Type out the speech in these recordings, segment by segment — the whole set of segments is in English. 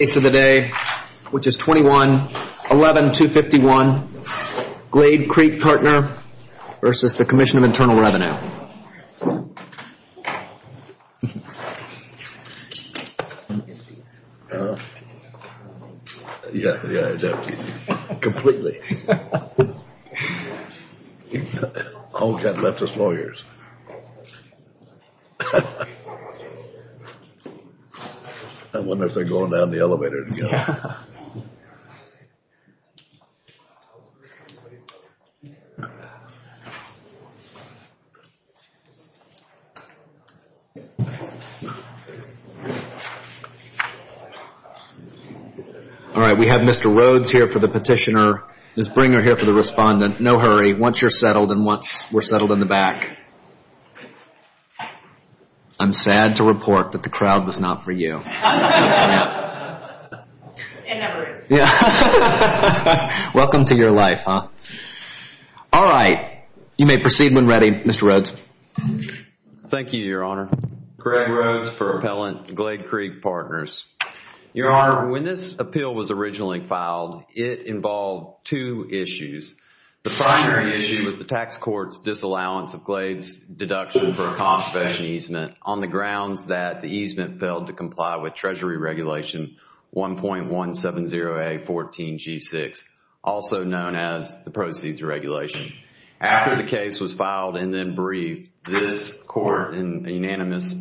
21-11-251 Glade Creek Partner v. Commissioner of Internal Revenue All right, we have Mr. Rhodes here for the petitioner. Ms. Bringer here for the respondent. No hurry. Once you're settled and once we're settled in the back, I'm sad to report that the crowd was not for you. It never is. Welcome to your life, huh? All right, you may proceed when ready. Mr. Rhodes. Thank you, Your Honor. Craig Rhodes for Appellant Glade Creek Partners. Your Honor, when this appeal was originally filed, it involved two issues. The primary issue was the tax court's disallowance of Glade's deduction for a conservation easement on the grounds that the easement failed to comply with Treasury Regulation 1.170A14G6, also known as the Proceeds Regulation. After the case was filed and then briefed, this court in a unanimous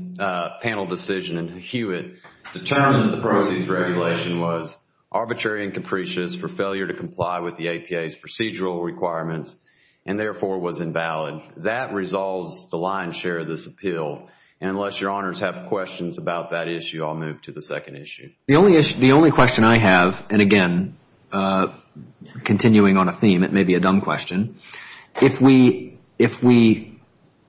panel decision in Hewitt determined the Proceeds Regulation was arbitrary and capricious for failure to comply with the APA's procedural requirements and therefore was invalid. That resolves the lion's share of this appeal. Unless your honors have questions about that issue, I'll move to the second issue. The only question I have, and again, continuing on a theme, it may be a dumb question. If we agree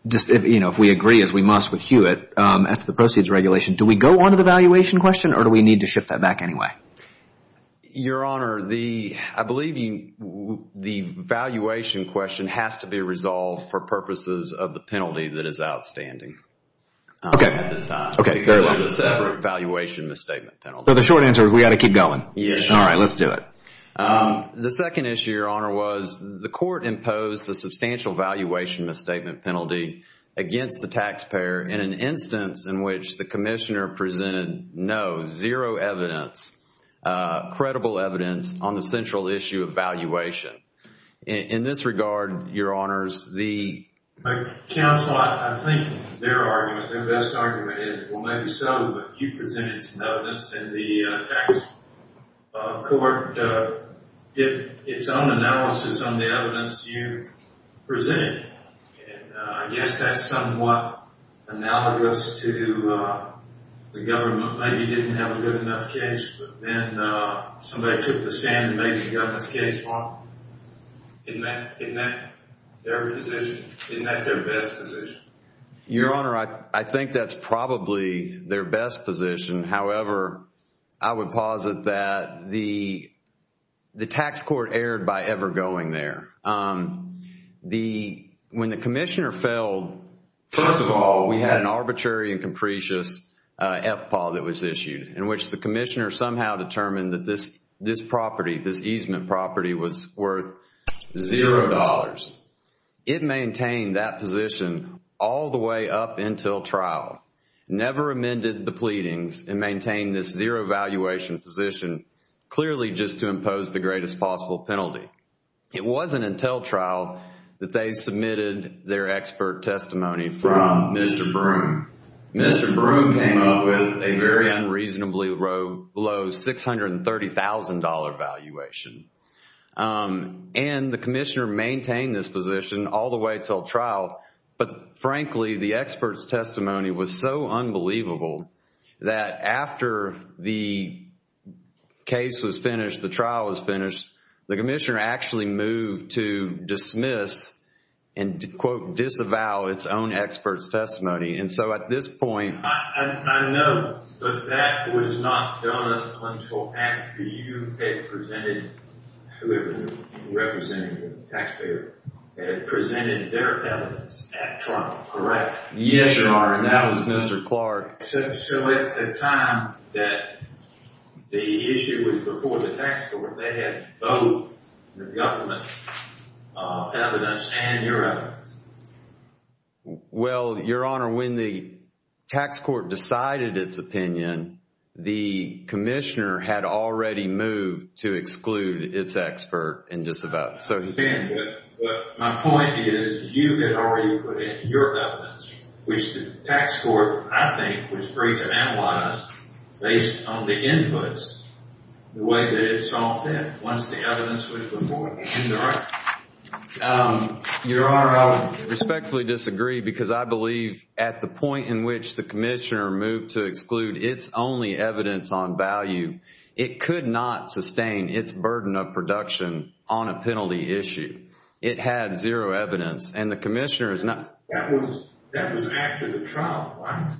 as we must with Hewitt as to the Proceeds Regulation, do we go on to the valuation question or do we need to shift that back anyway? Your Honor, I believe the valuation question has to be resolved for purposes of the penalty that is outstanding at this time because there is a separate valuation misstatement penalty. So the short answer is we've got to keep going? Yes, Your Honor. All right, let's do it. The second issue, Your Honor, was the court imposed a substantial valuation misstatement penalty against the taxpayer in an instance in which the commissioner presented no, zero evidence, credible evidence on the central issue of valuation. In this regard, Your Honors, the... Counsel, I think their argument, their best argument is, well, maybe so, but you presented some evidence and the tax court did its own analysis on the evidence you presented. I guess that's somewhat analogous to the government maybe didn't have a good enough case, but then somebody took the stand and made the government's case wrong. Isn't that their position? Isn't that their best position? Your Honor, I think that's probably their best position. However, I would posit that the tax court erred by ever going there. When the commissioner failed, first of all, we had an arbitrary and capricious FPAW that was issued in which the commissioner somehow determined that this property, this easement property was worth zero dollars. It maintained that position all the way up until trial, never amended the pleadings and maintained this zero valuation position clearly just to impose the greatest possible penalty. It wasn't until trial that they submitted their expert testimony from Mr. Broom. Mr. Broom came up with a very unreasonably low $630,000 valuation. And the commissioner maintained this position all the way until trial, but frankly, the expert's testimony was so unbelievable that after the case was finished, the trial was finished, the commissioner actually moved to dismiss and to, quote, disavow its own expert's testimony. And so at this point... I know, but that was not done until after you had presented, whoever represented the taxpayer, had presented their evidence at trial, correct? Yes, Your Honor, and that was Mr. Clark. So at the time that the issue was before the tax court, they had both the government's evidence and your evidence? Well, Your Honor, when the tax court decided its opinion, the commissioner had already moved to exclude its expert and disavow it. But my point is, you had already put in your evidence, which the tax court, I think, was free to analyze based on the inputs, the way that it saw fit, once the evidence was before it. Your Honor, I respectfully disagree because I believe at the point in which the commissioner moved to exclude its only evidence on value, it could not sustain its burden of production on a penalty issue. It had zero evidence, and the commissioner is not... That was after the trial, right?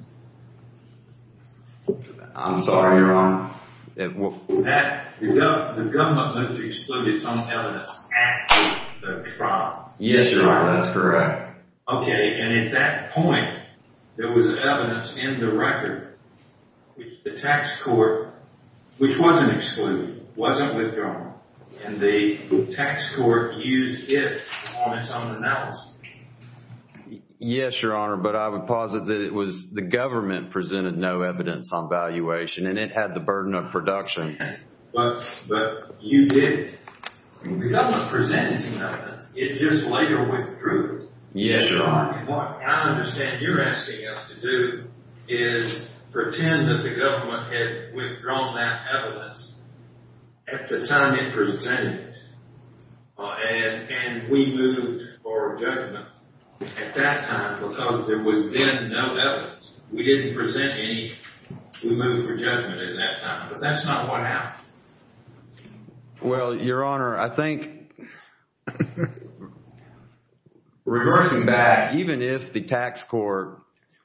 I'm sorry, Your Honor. The government moved to exclude its own evidence after the trial. Yes, Your Honor, that's correct. Okay, and at that point, there was evidence in the record which the tax court, which wasn't excluded, wasn't withdrawn, and the tax court used it on its own analysis. Yes, Your Honor, but I would posit that it was the government presented no evidence on valuation, and it had the burden of production. But you did. The government presented some evidence. It just later withdrew it. Yes, Your Honor. Your Honor, what I understand you're asking us to do is pretend that the government had withdrawn that evidence at the time it presented it, and we moved for judgment at that time because there was then no evidence. We didn't present any. We moved for judgment at that time, but that's not what happened. Well, Your Honor, I think reversing back, even if the tax court...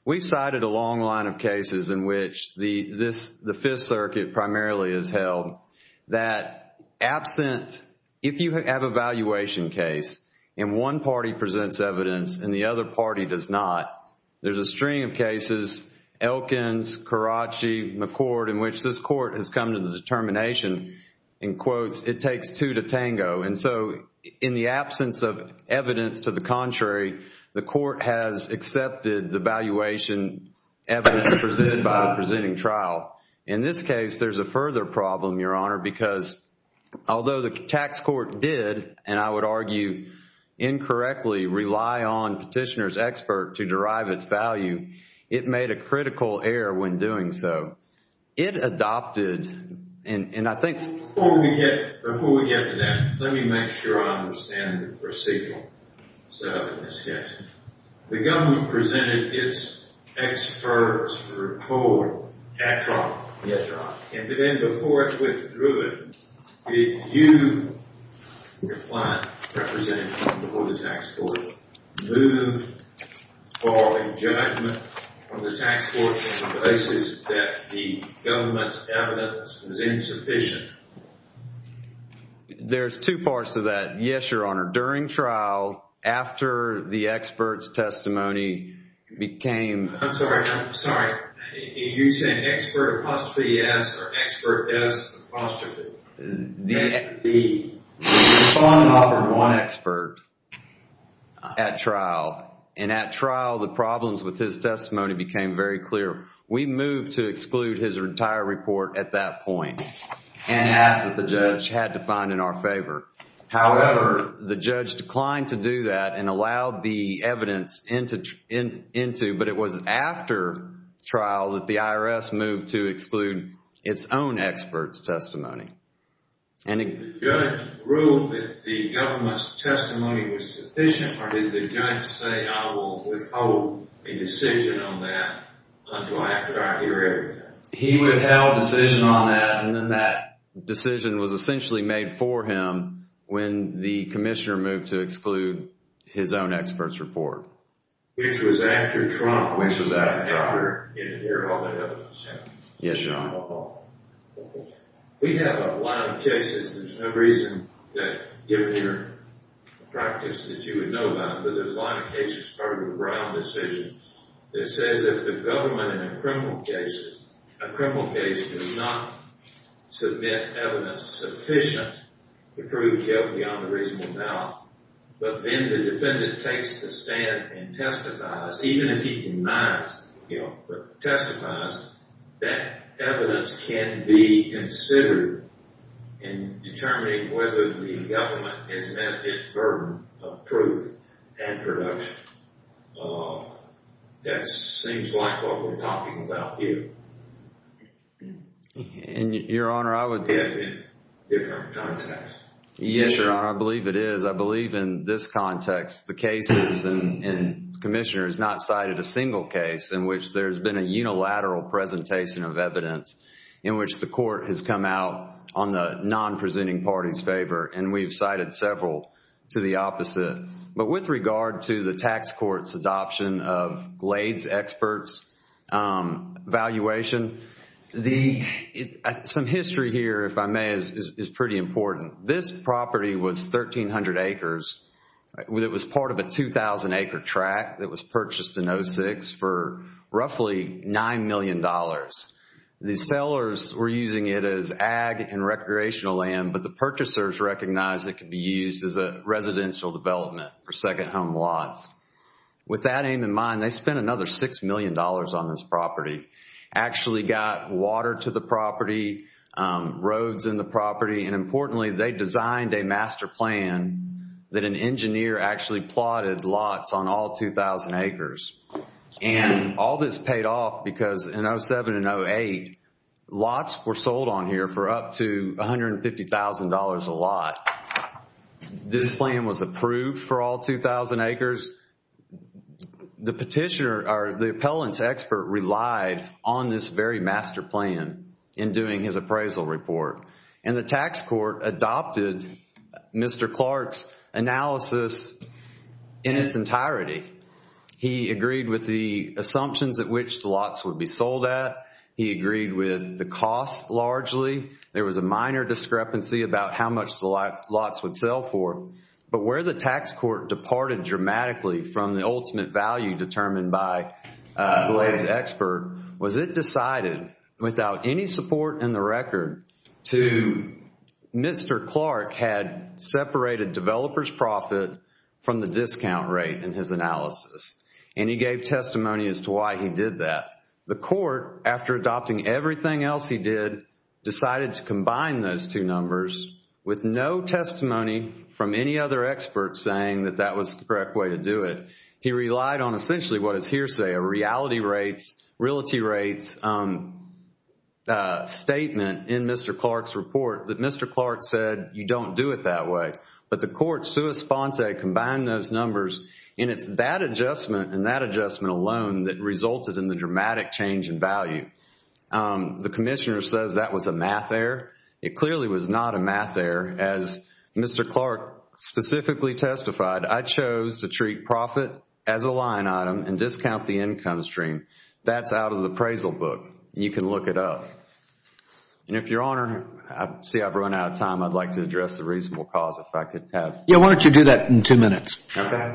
We cited a long line of cases in which the Fifth Circuit primarily has held that absent... If you have a valuation case and one party presents evidence and the other party does not, there's a string of cases, Elkins, Caracci, McCord, in which this court has come to the determination, in quotes, it takes two to tango. And so in the absence of evidence to the contrary, the court has accepted the valuation evidence presented by the presenting trial. In this case, there's a further problem, Your Honor, because although the tax court did, and I would argue incorrectly, rely on petitioner's expert to derive its value, it made a critical error when doing so. It adopted, and I think... Before we get to that, let me make sure I understand the procedure set up in this case. The government presented its expert's report at trial. Yes, Your Honor. And then before it withdrew it, did you, your client representative before the tax court, move for a judgment from the tax court on the basis that the government's evidence was insufficient? There's two parts to that. Yes, Your Honor. During trial, after the expert's testimony became... I'm sorry. I'm sorry. Are you saying expert apostrophe s or expert s apostrophe? The respondent offered one expert at trial, and at trial, the problems with his testimony became very clear. We moved to exclude his entire report at that point and asked that the judge had to find in our favor. However, the judge declined to do that and allowed the evidence into, but it was after trial that the IRS moved to exclude its own expert's report. And did the judge rule that the government's testimony was sufficient, or did the judge say, I will withhold a decision on that until after I hear everything? He withheld a decision on that, and then that decision was essentially made for him when the commissioner moved to exclude his own expert's report. Which was after trial. Which was after trial. Yes, Your Honor. testifies that evidence can be considered in determining whether the government has met its burden of proof and production. That seems like what we're talking about here. And, Your Honor, I would... In different contexts. Yes, Your Honor, I believe it is. I believe in this context, the cases, and the commissioner has not cited a single case in which there's been a unilateral presentation of evidence in which the court has come out on the non-presenting party's favor, and we've cited several to the opposite. But with regard to the tax court's adoption of Glade's expert's evaluation, some history here, if I may, is pretty important. This property was 1,300 acres. It was part of a 2,000 acre tract that was purchased in 06 for roughly $9 million. The sellers were using it as ag and recreational land, but the purchasers recognized it could be used as a residential development for second home lots. With that aim in mind, they spent another $6 million on this property. Actually got water to the property, roads in the property, and importantly, they designed a master plan that an engineer actually plotted lots on all 2,000 acres. And all this paid off because in 07 and 08, lots were sold on here for up to $150,000 a lot. This plan was approved for all 2,000 acres. The petitioner, or the appellant's expert, relied on this very master plan in doing his appraisal report. And the tax court adopted Mr. Clark's analysis in its entirety. He agreed with the assumptions at which the lots would be sold at. He agreed with the cost largely. There was a minor discrepancy about how much the lots would sell for. But where the tax court departed dramatically from the ultimate value determined by the lady's expert was it decided without any support in the record to Mr. Clark had separated developer's profit from the discount rate in his analysis. And he gave testimony as to why he did that. The court, after adopting everything else he did, decided to combine those two numbers with no testimony from any other expert saying that that was the correct way to do it. He relied on essentially what is hearsay, a reality rates, realty rates statement in Mr. Clark's report that Mr. Clark said you don't do it that way. But the court, sua sponte, combined those numbers and it's that adjustment and that adjustment alone that resulted in the dramatic change in value. The commissioner says that was a math error. It clearly was not a math error. As Mr. Clark specifically testified, I chose to treat profit as a line item and discount the income stream. That's out of the appraisal book. You can look it up. And if your honor, I see I've run out of time. I'd like to address the reasonable cause if I could have. Yeah, why don't you do that in two minutes. Okay.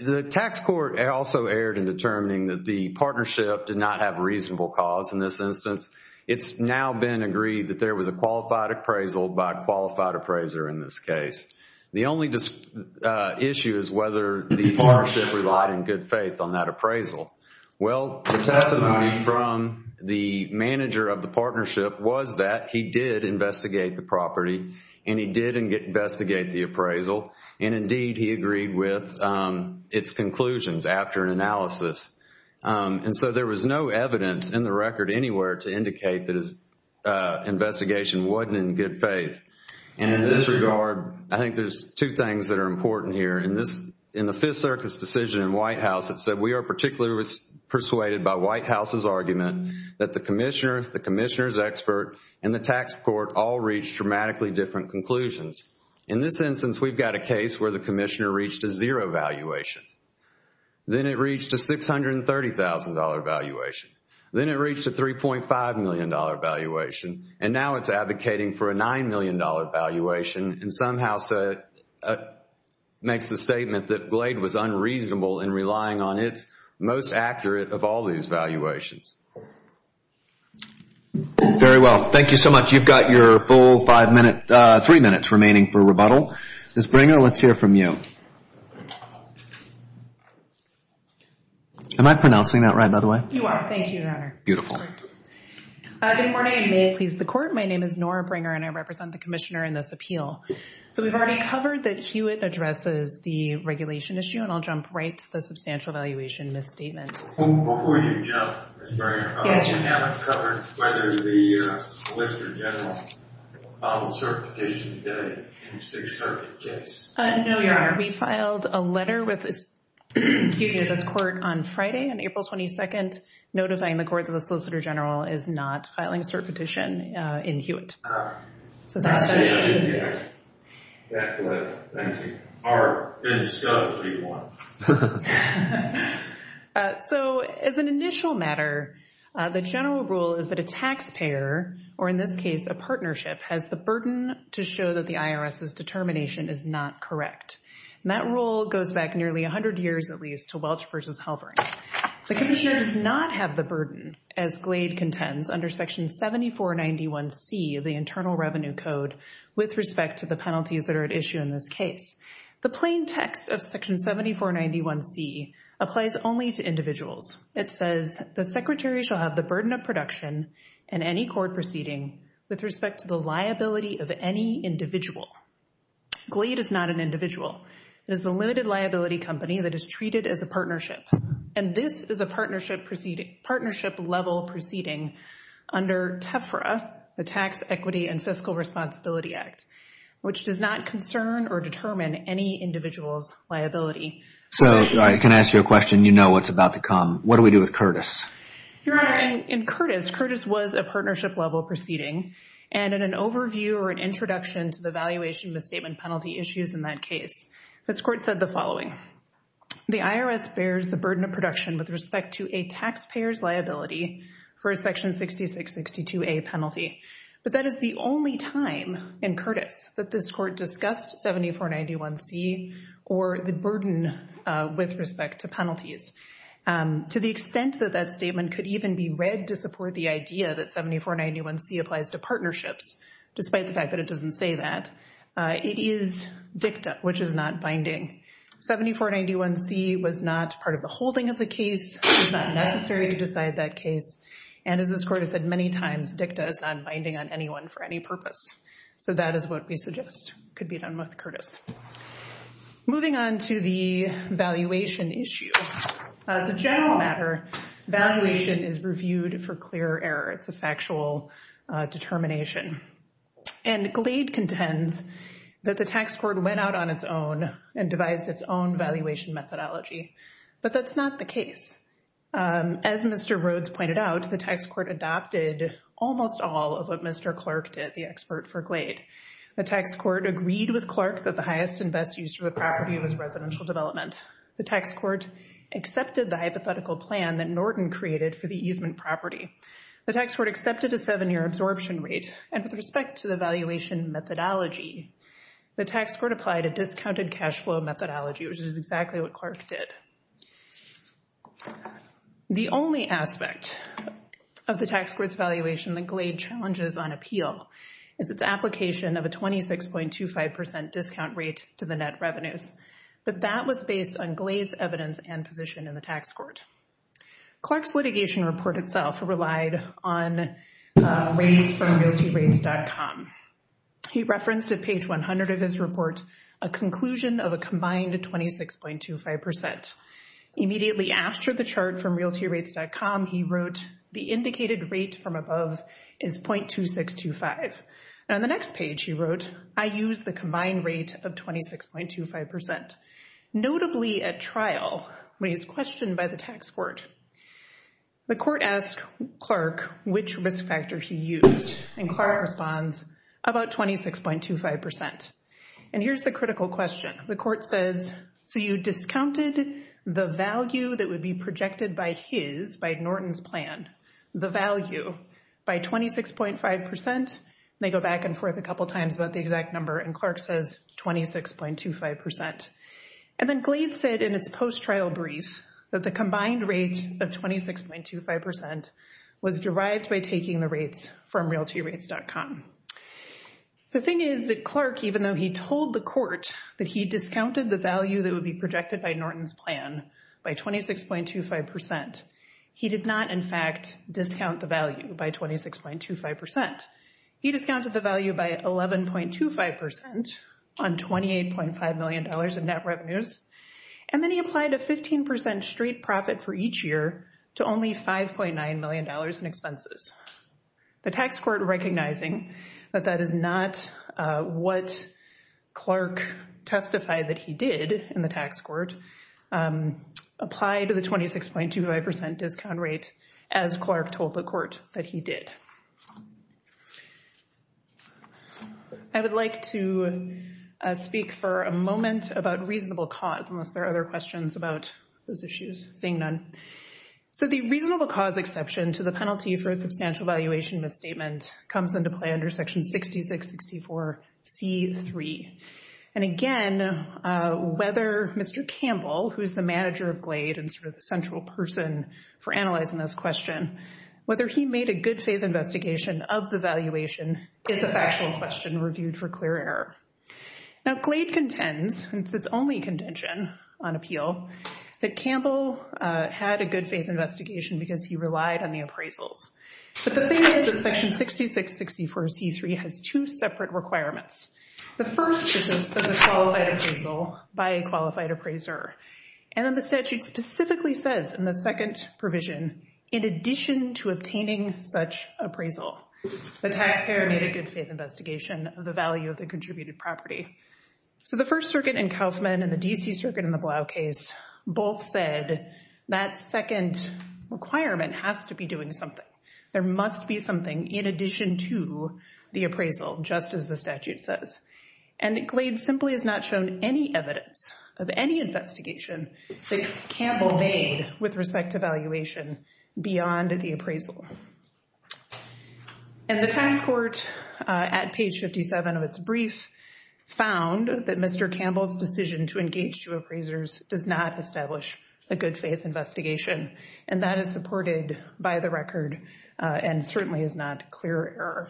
The tax court also erred in determining that the partnership did not have a reasonable cause in this instance. It's now been agreed that there was a qualified appraisal by a qualified appraiser in this case. The only issue is whether the partnership relied in good faith on that appraisal. Well, the testimony from the manager of the partnership was that he did investigate the property and he did investigate the appraisal. And indeed, he agreed with its conclusions after analysis. And so there was no evidence in the record anywhere to indicate that his investigation wasn't in good faith. And in this regard, I think there's two things that are important here. In the Fifth Circus decision in White House, it said, we are particularly persuaded by White House's argument that the commissioner, the commissioner's expert, and the tax court all reached dramatically different conclusions. In this instance, we've got a case where the commissioner reached a zero valuation. Then it reached a $630,000 valuation. Then it reached a $3.5 million valuation. And now it's advocating for a $9 million valuation and somehow makes the statement that Glade was unreasonable in relying on its most accurate of all these valuations. Very well. Thank you so much. You've got your full three minutes remaining for rebuttal. Ms. Bringer, let's hear from you. Am I pronouncing that right, by the way? You are. Thank you, Your Honor. Beautiful. Good morning, and may it please the Court. My name is Nora Bringer, and I represent the commissioner in this appeal. So we've already covered that Hewitt addresses the regulation issue, and I'll jump right to the substantial valuation misstatement. Before you jump, Ms. Bringer. Yes, Your Honor. We haven't covered whether the solicitor general filed a cert petition today in the Sixth Circus case. No, Your Honor. We filed a letter with this Court on Friday, on April 22nd, notifying the Court that the solicitor general is not filing a cert petition in Hewitt. Ah. That letter. Thank you. All right. Then discuss what you want. So as an initial matter, the general rule is that a taxpayer, or in this case a partnership, has the burden to show that the IRS's determination is not correct. And that rule goes back nearly 100 years, at least, to Welch v. Halvering. The commissioner does not have the burden, as Glade contends, under Section 7491C of the Internal Revenue Code with respect to the penalties that are at issue in this case. The plain text of Section 7491C applies only to individuals. It says the secretary shall have the burden of production in any court proceeding with respect to the liability of any individual. Glade is not an individual. It is a limited liability company that is treated as a partnership. And this is a partnership-level proceeding under TEFRA, the Tax, Equity, and Fiscal Responsibility Act, which does not concern or determine any individual's liability. So, can I ask you a question? You know what's about to come. What do we do with Curtis? Your Honor, in Curtis, Curtis was a partnership-level proceeding. And in an overview or an introduction to the valuation misstatement penalty issues in that case, this Court said the following. The IRS bears the burden of production with respect to a taxpayer's liability for a Section 6662A penalty. But that is the only time in Curtis that this Court discussed 7491C or the burden with respect to penalties. To the extent that that statement could even be read to support the idea that 7491C applies to partnerships, despite the fact that it doesn't say that, it is dicta, which is not binding. 7491C was not part of the holding of the case. It was not necessary to decide that case. And as this Court has said many times, dicta is not binding on anyone for any purpose. So that is what we suggest could be done with Curtis. Moving on to the valuation issue. As a general matter, valuation is reviewed for clear error. It's a factual determination. And Glade contends that the tax court went out on its own and devised its own valuation methodology. But that's not the case. As Mr. Rhodes pointed out, the tax court adopted almost all of what Mr. Clark did, the expert for Glade. The tax court agreed with Clark that the highest and best use of a property was residential development. The tax court accepted the hypothetical plan that Norton created for the easement property. The tax court accepted a seven-year absorption rate. And with respect to the valuation methodology, the tax court applied a discounted cash flow methodology, which is exactly what Clark did. The only aspect of the tax court's valuation that Glade challenges on appeal is its application of a 26.25% discount rate to the net revenues. But that was based on Glade's evidence and position in the tax court. Clark's litigation report itself relied on rates from GuiltyRates.com. He referenced at page 100 of his report a conclusion of a combined 26.25%. Immediately after the chart from GuiltyRates.com, he wrote, the indicated rate from above is 0.2625. And on the next page, he wrote, I use the combined rate of 26.25%. Notably at trial, when he was questioned by the tax court, the court asked Clark which risk factor he used. And Clark responds, about 26.25%. And here's the critical question. The court says, so you discounted the value that would be projected by his, by Norton's plan, the value, by 26.5%. And they go back and forth a couple times about the exact number. And Clark says 26.25%. And then Glade said in its post-trial brief that the combined rate of 26.25% was derived by taking the rates from GuiltyRates.com. The thing is that Clark, even though he told the court that he discounted the value that would be projected by Norton's plan by 26.25%, he did not in fact discount the value by 26.25%. Instead, he discounted the value by 11.25% on $28.5 million in net revenues. And then he applied a 15% straight profit for each year to only $5.9 million in expenses. The tax court, recognizing that that is not what Clark testified that he did in the tax court, applied the 26.25% discount rate as Clark told the court that he did. I would like to speak for a moment about reasonable cause, unless there are other questions about those issues. Seeing none. So the reasonable cause exception to the penalty for a substantial valuation misstatement comes into play under Section 6664C3. And again, whether Mr. Campbell, who is the manager of Glade and sort of the central person for analyzing this question, whether he made a good faith investigation of the valuation is a factual question reviewed for clear error. Now Glade contends, since it's only contention on appeal, that Campbell had a good faith investigation because he relied on the appraisals. But the thing is that Section 6664C3 has two separate requirements. The first is a qualified appraisal by a qualified appraiser. And then the statute specifically says in the second provision, in addition to obtaining such appraisal, the taxpayer made a good faith investigation of the value of the contributed property. So the First Circuit in Kaufman and the D.C. Circuit in the Blau case both said that second requirement has to be doing something. There must be something in addition to the appraisal, just as the statute says. And Glade simply has not shown any evidence of any investigation that Campbell made with respect to valuation beyond the appraisal. And the tax court at page 57 of its brief found that Mr. Campbell's decision to engage two appraisers does not establish a good faith investigation. And that is supported by the record and certainly is not clear error.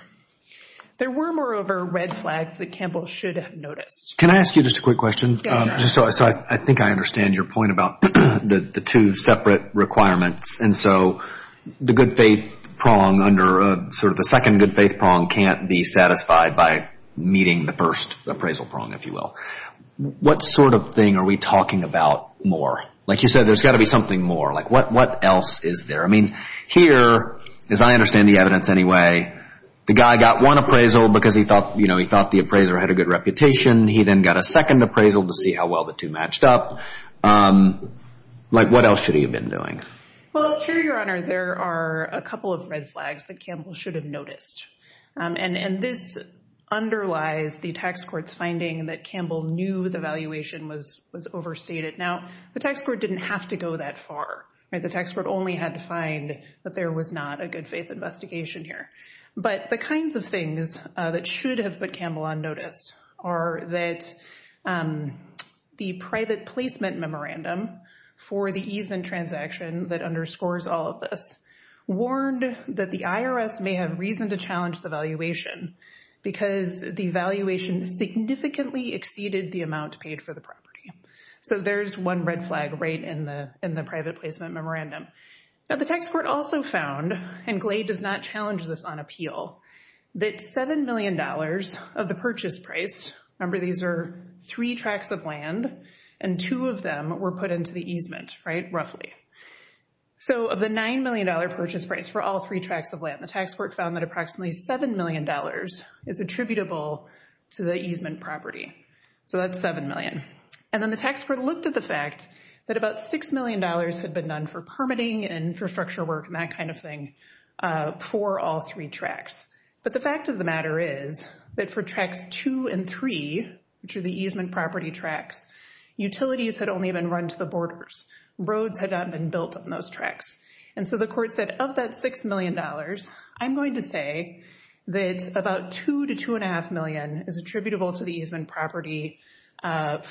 There were, moreover, red flags that Campbell should have noticed. Can I ask you just a quick question? Yes, sir. So I think I understand your point about the two separate requirements. And so the good faith prong under sort of the second good faith prong can't be satisfied by meeting the first appraisal prong, if you will. What sort of thing are we talking about more? Like you said, there's got to be something more. Like what else is there? I mean, here, as I understand the evidence anyway, the guy got one appraisal because he thought the appraiser had a good reputation. He then got a second appraisal to see how well the two matched up. Like what else should he have been doing? Well, here, Your Honor, there are a couple of red flags that Campbell should have noticed. And this underlies the tax court's finding that Campbell knew the valuation was overstated. Now, the tax court didn't have to go that far. The tax court only had to find that there was not a good faith investigation here. But the kinds of things that should have put Campbell on notice are that the private placement memorandum for the easement transaction that underscores all of this warned that the IRS may have reason to challenge the valuation because the valuation significantly exceeded the amount paid for the property. So there's one red flag right in the private placement memorandum. Now, the tax court also found, and Glade does not challenge this on appeal, that $7 million of the purchase price, remember these are three tracts of land, and two of them were put into the easement, right, roughly. So of the $9 million purchase price for all three tracts of land, the tax court found that approximately $7 million is attributable to the easement property. So that's $7 million. And then the tax court looked at the fact that about $6 million had been done for permitting and infrastructure work and that kind of thing for all three tracts. But the fact of the matter is that for tracts two and three, which are the easement property tracts, utilities had only been run to the borders. Roads had not been built on those tracts. And so the court said, of that $6 million, I'm going to say that about $2 to $2.5 million is attributable to the easement property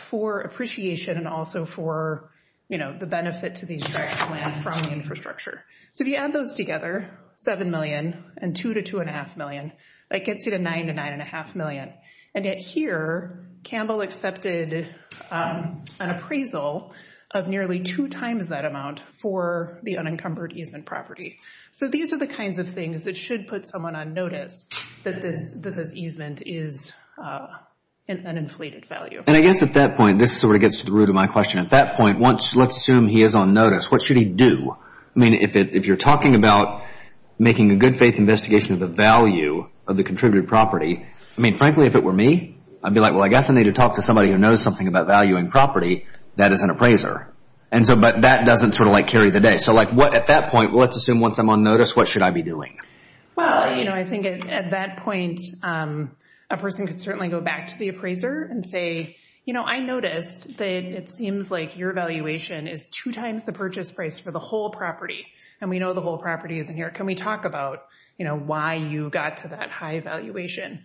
for appreciation and also for, you know, the benefit to these tracts of land from the infrastructure. So if you add those together, $7 million and $2 to $2.5 million, that gets you to $9 to $9.5 million. And yet here, Campbell accepted an appraisal of nearly two times that amount for the unencumbered easement property. So these are the kinds of things that should put someone on notice that this easement is an inflated value. And I guess at that point, this sort of gets to the root of my question. At that point, let's assume he is on notice. What should he do? I mean, if you're talking about making a good faith investigation of the value of the contributed property, I mean, frankly, if it were me, I'd be like, well, I guess I need to talk to somebody who knows something about valuing property that is an appraiser. But that doesn't sort of like carry the day. So at that point, let's assume once I'm on notice, what should I be doing? Well, you know, I think at that point, a person could certainly go back to the appraiser and say, you know, I noticed that it seems like your valuation is two times the purchase price for the whole property. And we know the whole property is in here. Can we talk about, you know, why you got to that high valuation?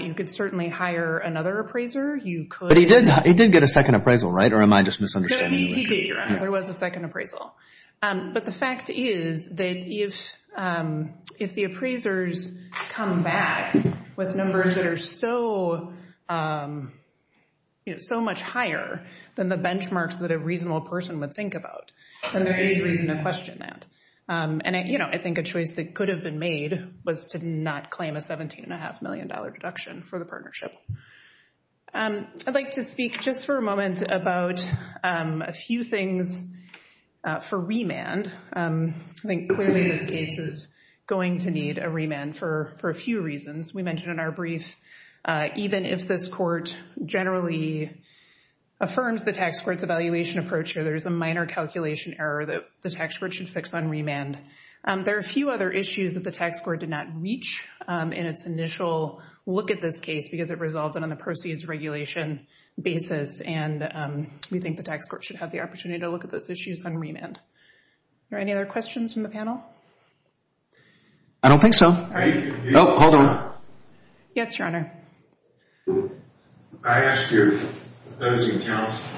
You could certainly hire another appraiser. But he did get a second appraisal, right? Or am I just misunderstanding? He did. There was a second appraisal. But the fact is that if the appraisers come back with numbers that are so much higher than the benchmarks that a reasonable person would think about, then there is reason to question that. And, you know, I think a choice that could have been made was to not claim a $17.5 million deduction for the partnership. I'd like to speak just for a moment about a few things for remand. I think clearly this case is going to need a remand for a few reasons. We mentioned in our brief, even if this court generally affirms the tax court's evaluation approach here, there is a minor calculation error that the tax court should fix on remand. There are a few other issues that the tax court did not reach in its initial look at this case because it resolved it on the proceeds regulation basis. And we think the tax court should have the opportunity to look at those issues on remand. Are there any other questions from the panel? I don't think so. Oh, hold on. Yes, Your Honor. I asked your opposing counsel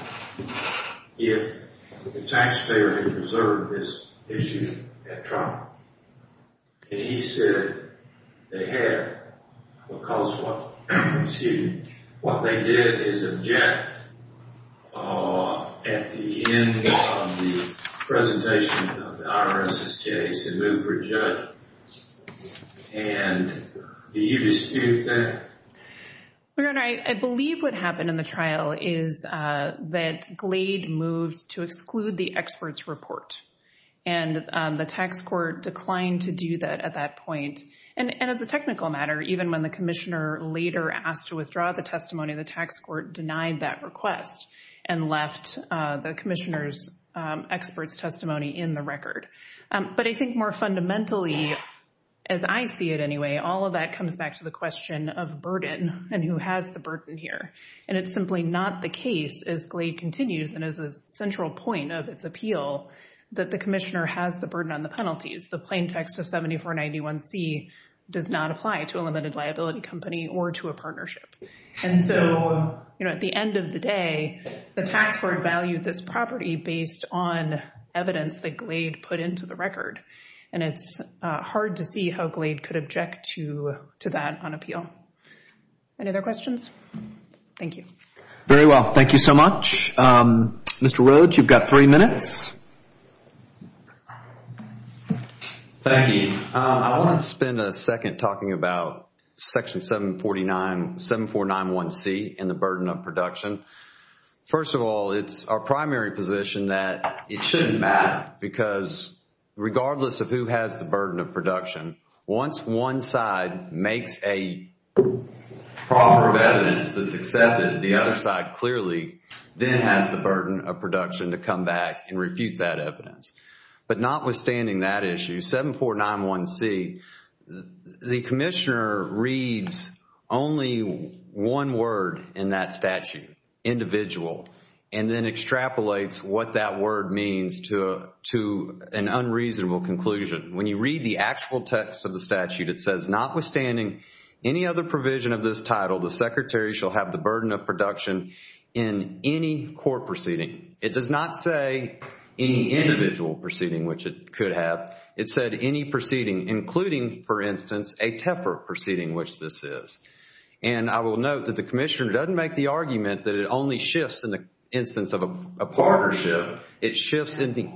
if the taxpayer had reserved this issue at trial. And he said they had because what they did is object at the end of the presentation of the IRS's case and move for a judge. And do you dispute that? Your Honor, I believe what happened in the trial is that Glade moved to exclude the expert's report. And the tax court declined to do that at that point. And as a technical matter, even when the commissioner later asked to withdraw the testimony, the tax court denied that request and left the commissioner's expert's testimony in the record. But I think more fundamentally, as I see it anyway, all of that comes back to the question of burden and who has the burden here. And it's simply not the case, as Glade continues and as a central point of its appeal, that the commissioner has the burden on the penalties. The plain text of 7491C does not apply to a limited liability company or to a partnership. And so, you know, at the end of the day, the tax court valued this property based on evidence that Glade put into the record. And it's hard to see how Glade could object to that on appeal. Any other questions? Thank you. Very well. Thank you so much. Mr. Rhodes, you've got three minutes. Thank you. I want to spend a second talking about Section 749, 7491C and the burden of production. First of all, it's our primary position that it shouldn't matter because regardless of who has the burden of production, once one side makes a proper evidence that's accepted, the other side clearly then has the burden of production to come back and refute that evidence. But notwithstanding that issue, 7491C, the commissioner reads only one word in that statute, individual, and then extrapolates what that word means to an unreasonable conclusion. When you read the actual text of the statute, it says, notwithstanding any other provision of this title, the secretary shall have the burden of production in any court proceeding. It does not say any individual proceeding, which it could have. It said any proceeding, including, for instance, a TEFR proceeding, which this is. And I will note that the commissioner doesn't make the argument that it only shifts in the instance of a partnership. It shifts in the…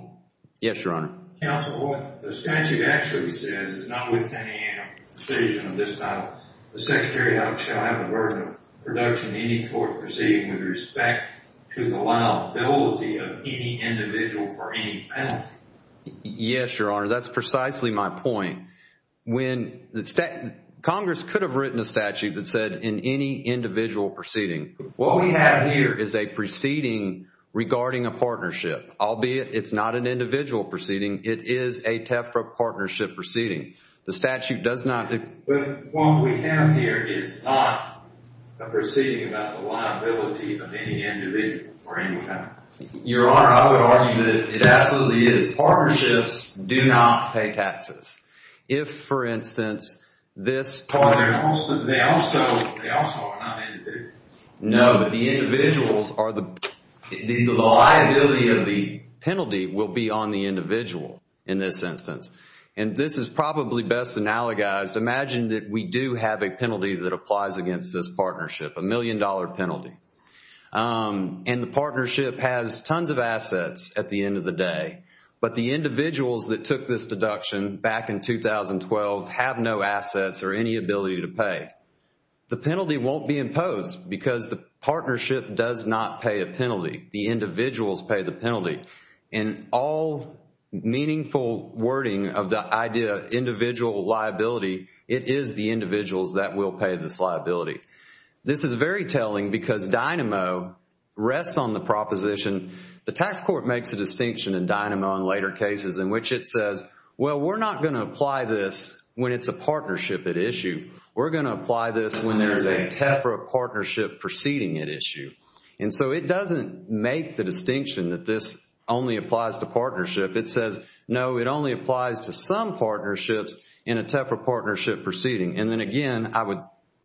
Yes, Your Honor. Counsel, what the statute actually says is notwithstanding any other provision of this title, the secretary shall have the burden of production in any court proceeding with respect to the liability of any individual for any penalty. Yes, Your Honor. That's precisely my point. Congress could have written a statute that said in any individual proceeding. What we have here is a proceeding regarding a partnership. Albeit it's not an individual proceeding, it is a TEFR partnership proceeding. The statute does not… Well, what we have here is not a proceeding about the liability of any individual for any penalty. Your Honor, I would argue that it absolutely is. Partnerships do not pay taxes. If, for instance, this… They also are not individuals. No, but the individuals are the… The liability of the penalty will be on the individual in this instance. And this is probably best analogized. Imagine that we do have a penalty that applies against this partnership, a million-dollar penalty. And the partnership has tons of assets at the end of the day. But the individuals that took this deduction back in 2012 have no assets or any ability to pay. The penalty won't be imposed because the partnership does not pay a penalty. The individuals pay the penalty. In all meaningful wording of the idea of individual liability, it is the individuals that will pay this liability. This is very telling because DYNAMO rests on the proposition. The tax court makes a distinction in DYNAMO in later cases in which it says, well, we're not going to apply this when it's a partnership at issue. We're going to apply this when there is a TEFRA partnership proceeding at issue. And so it doesn't make the distinction that this only applies to partnership. It says, no, it only applies to some partnerships in a TEFRA partnership proceeding. And then again, I would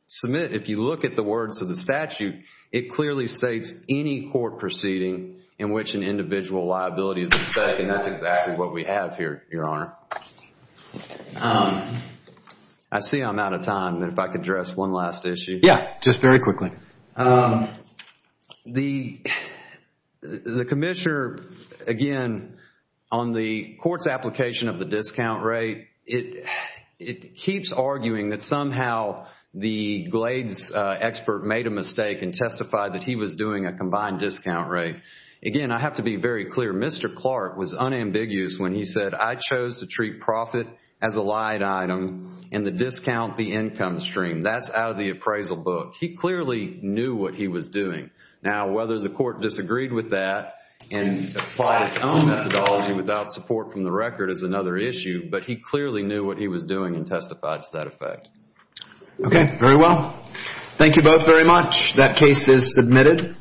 submit if you look at the words of the statute, it clearly states any court proceeding in which an individual liability is at stake. And that's exactly what we have here, Your Honor. I see I'm out of time. If I could address one last issue. Yeah, just very quickly. The commissioner, again, on the court's application of the discount rate, it keeps arguing that somehow the Glades expert made a mistake and testified that he was doing a combined discount rate. Again, I have to be very clear. Mr. Clark was unambiguous when he said, I chose to treat profit as a light item and the discount the income stream. That's out of the appraisal book. He clearly knew what he was doing. Now, whether the court disagreed with that and applied its own methodology without support from the record is another issue, but he clearly knew what he was doing and testified to that effect. Okay, very well. Thank you both very much. That case is submitted.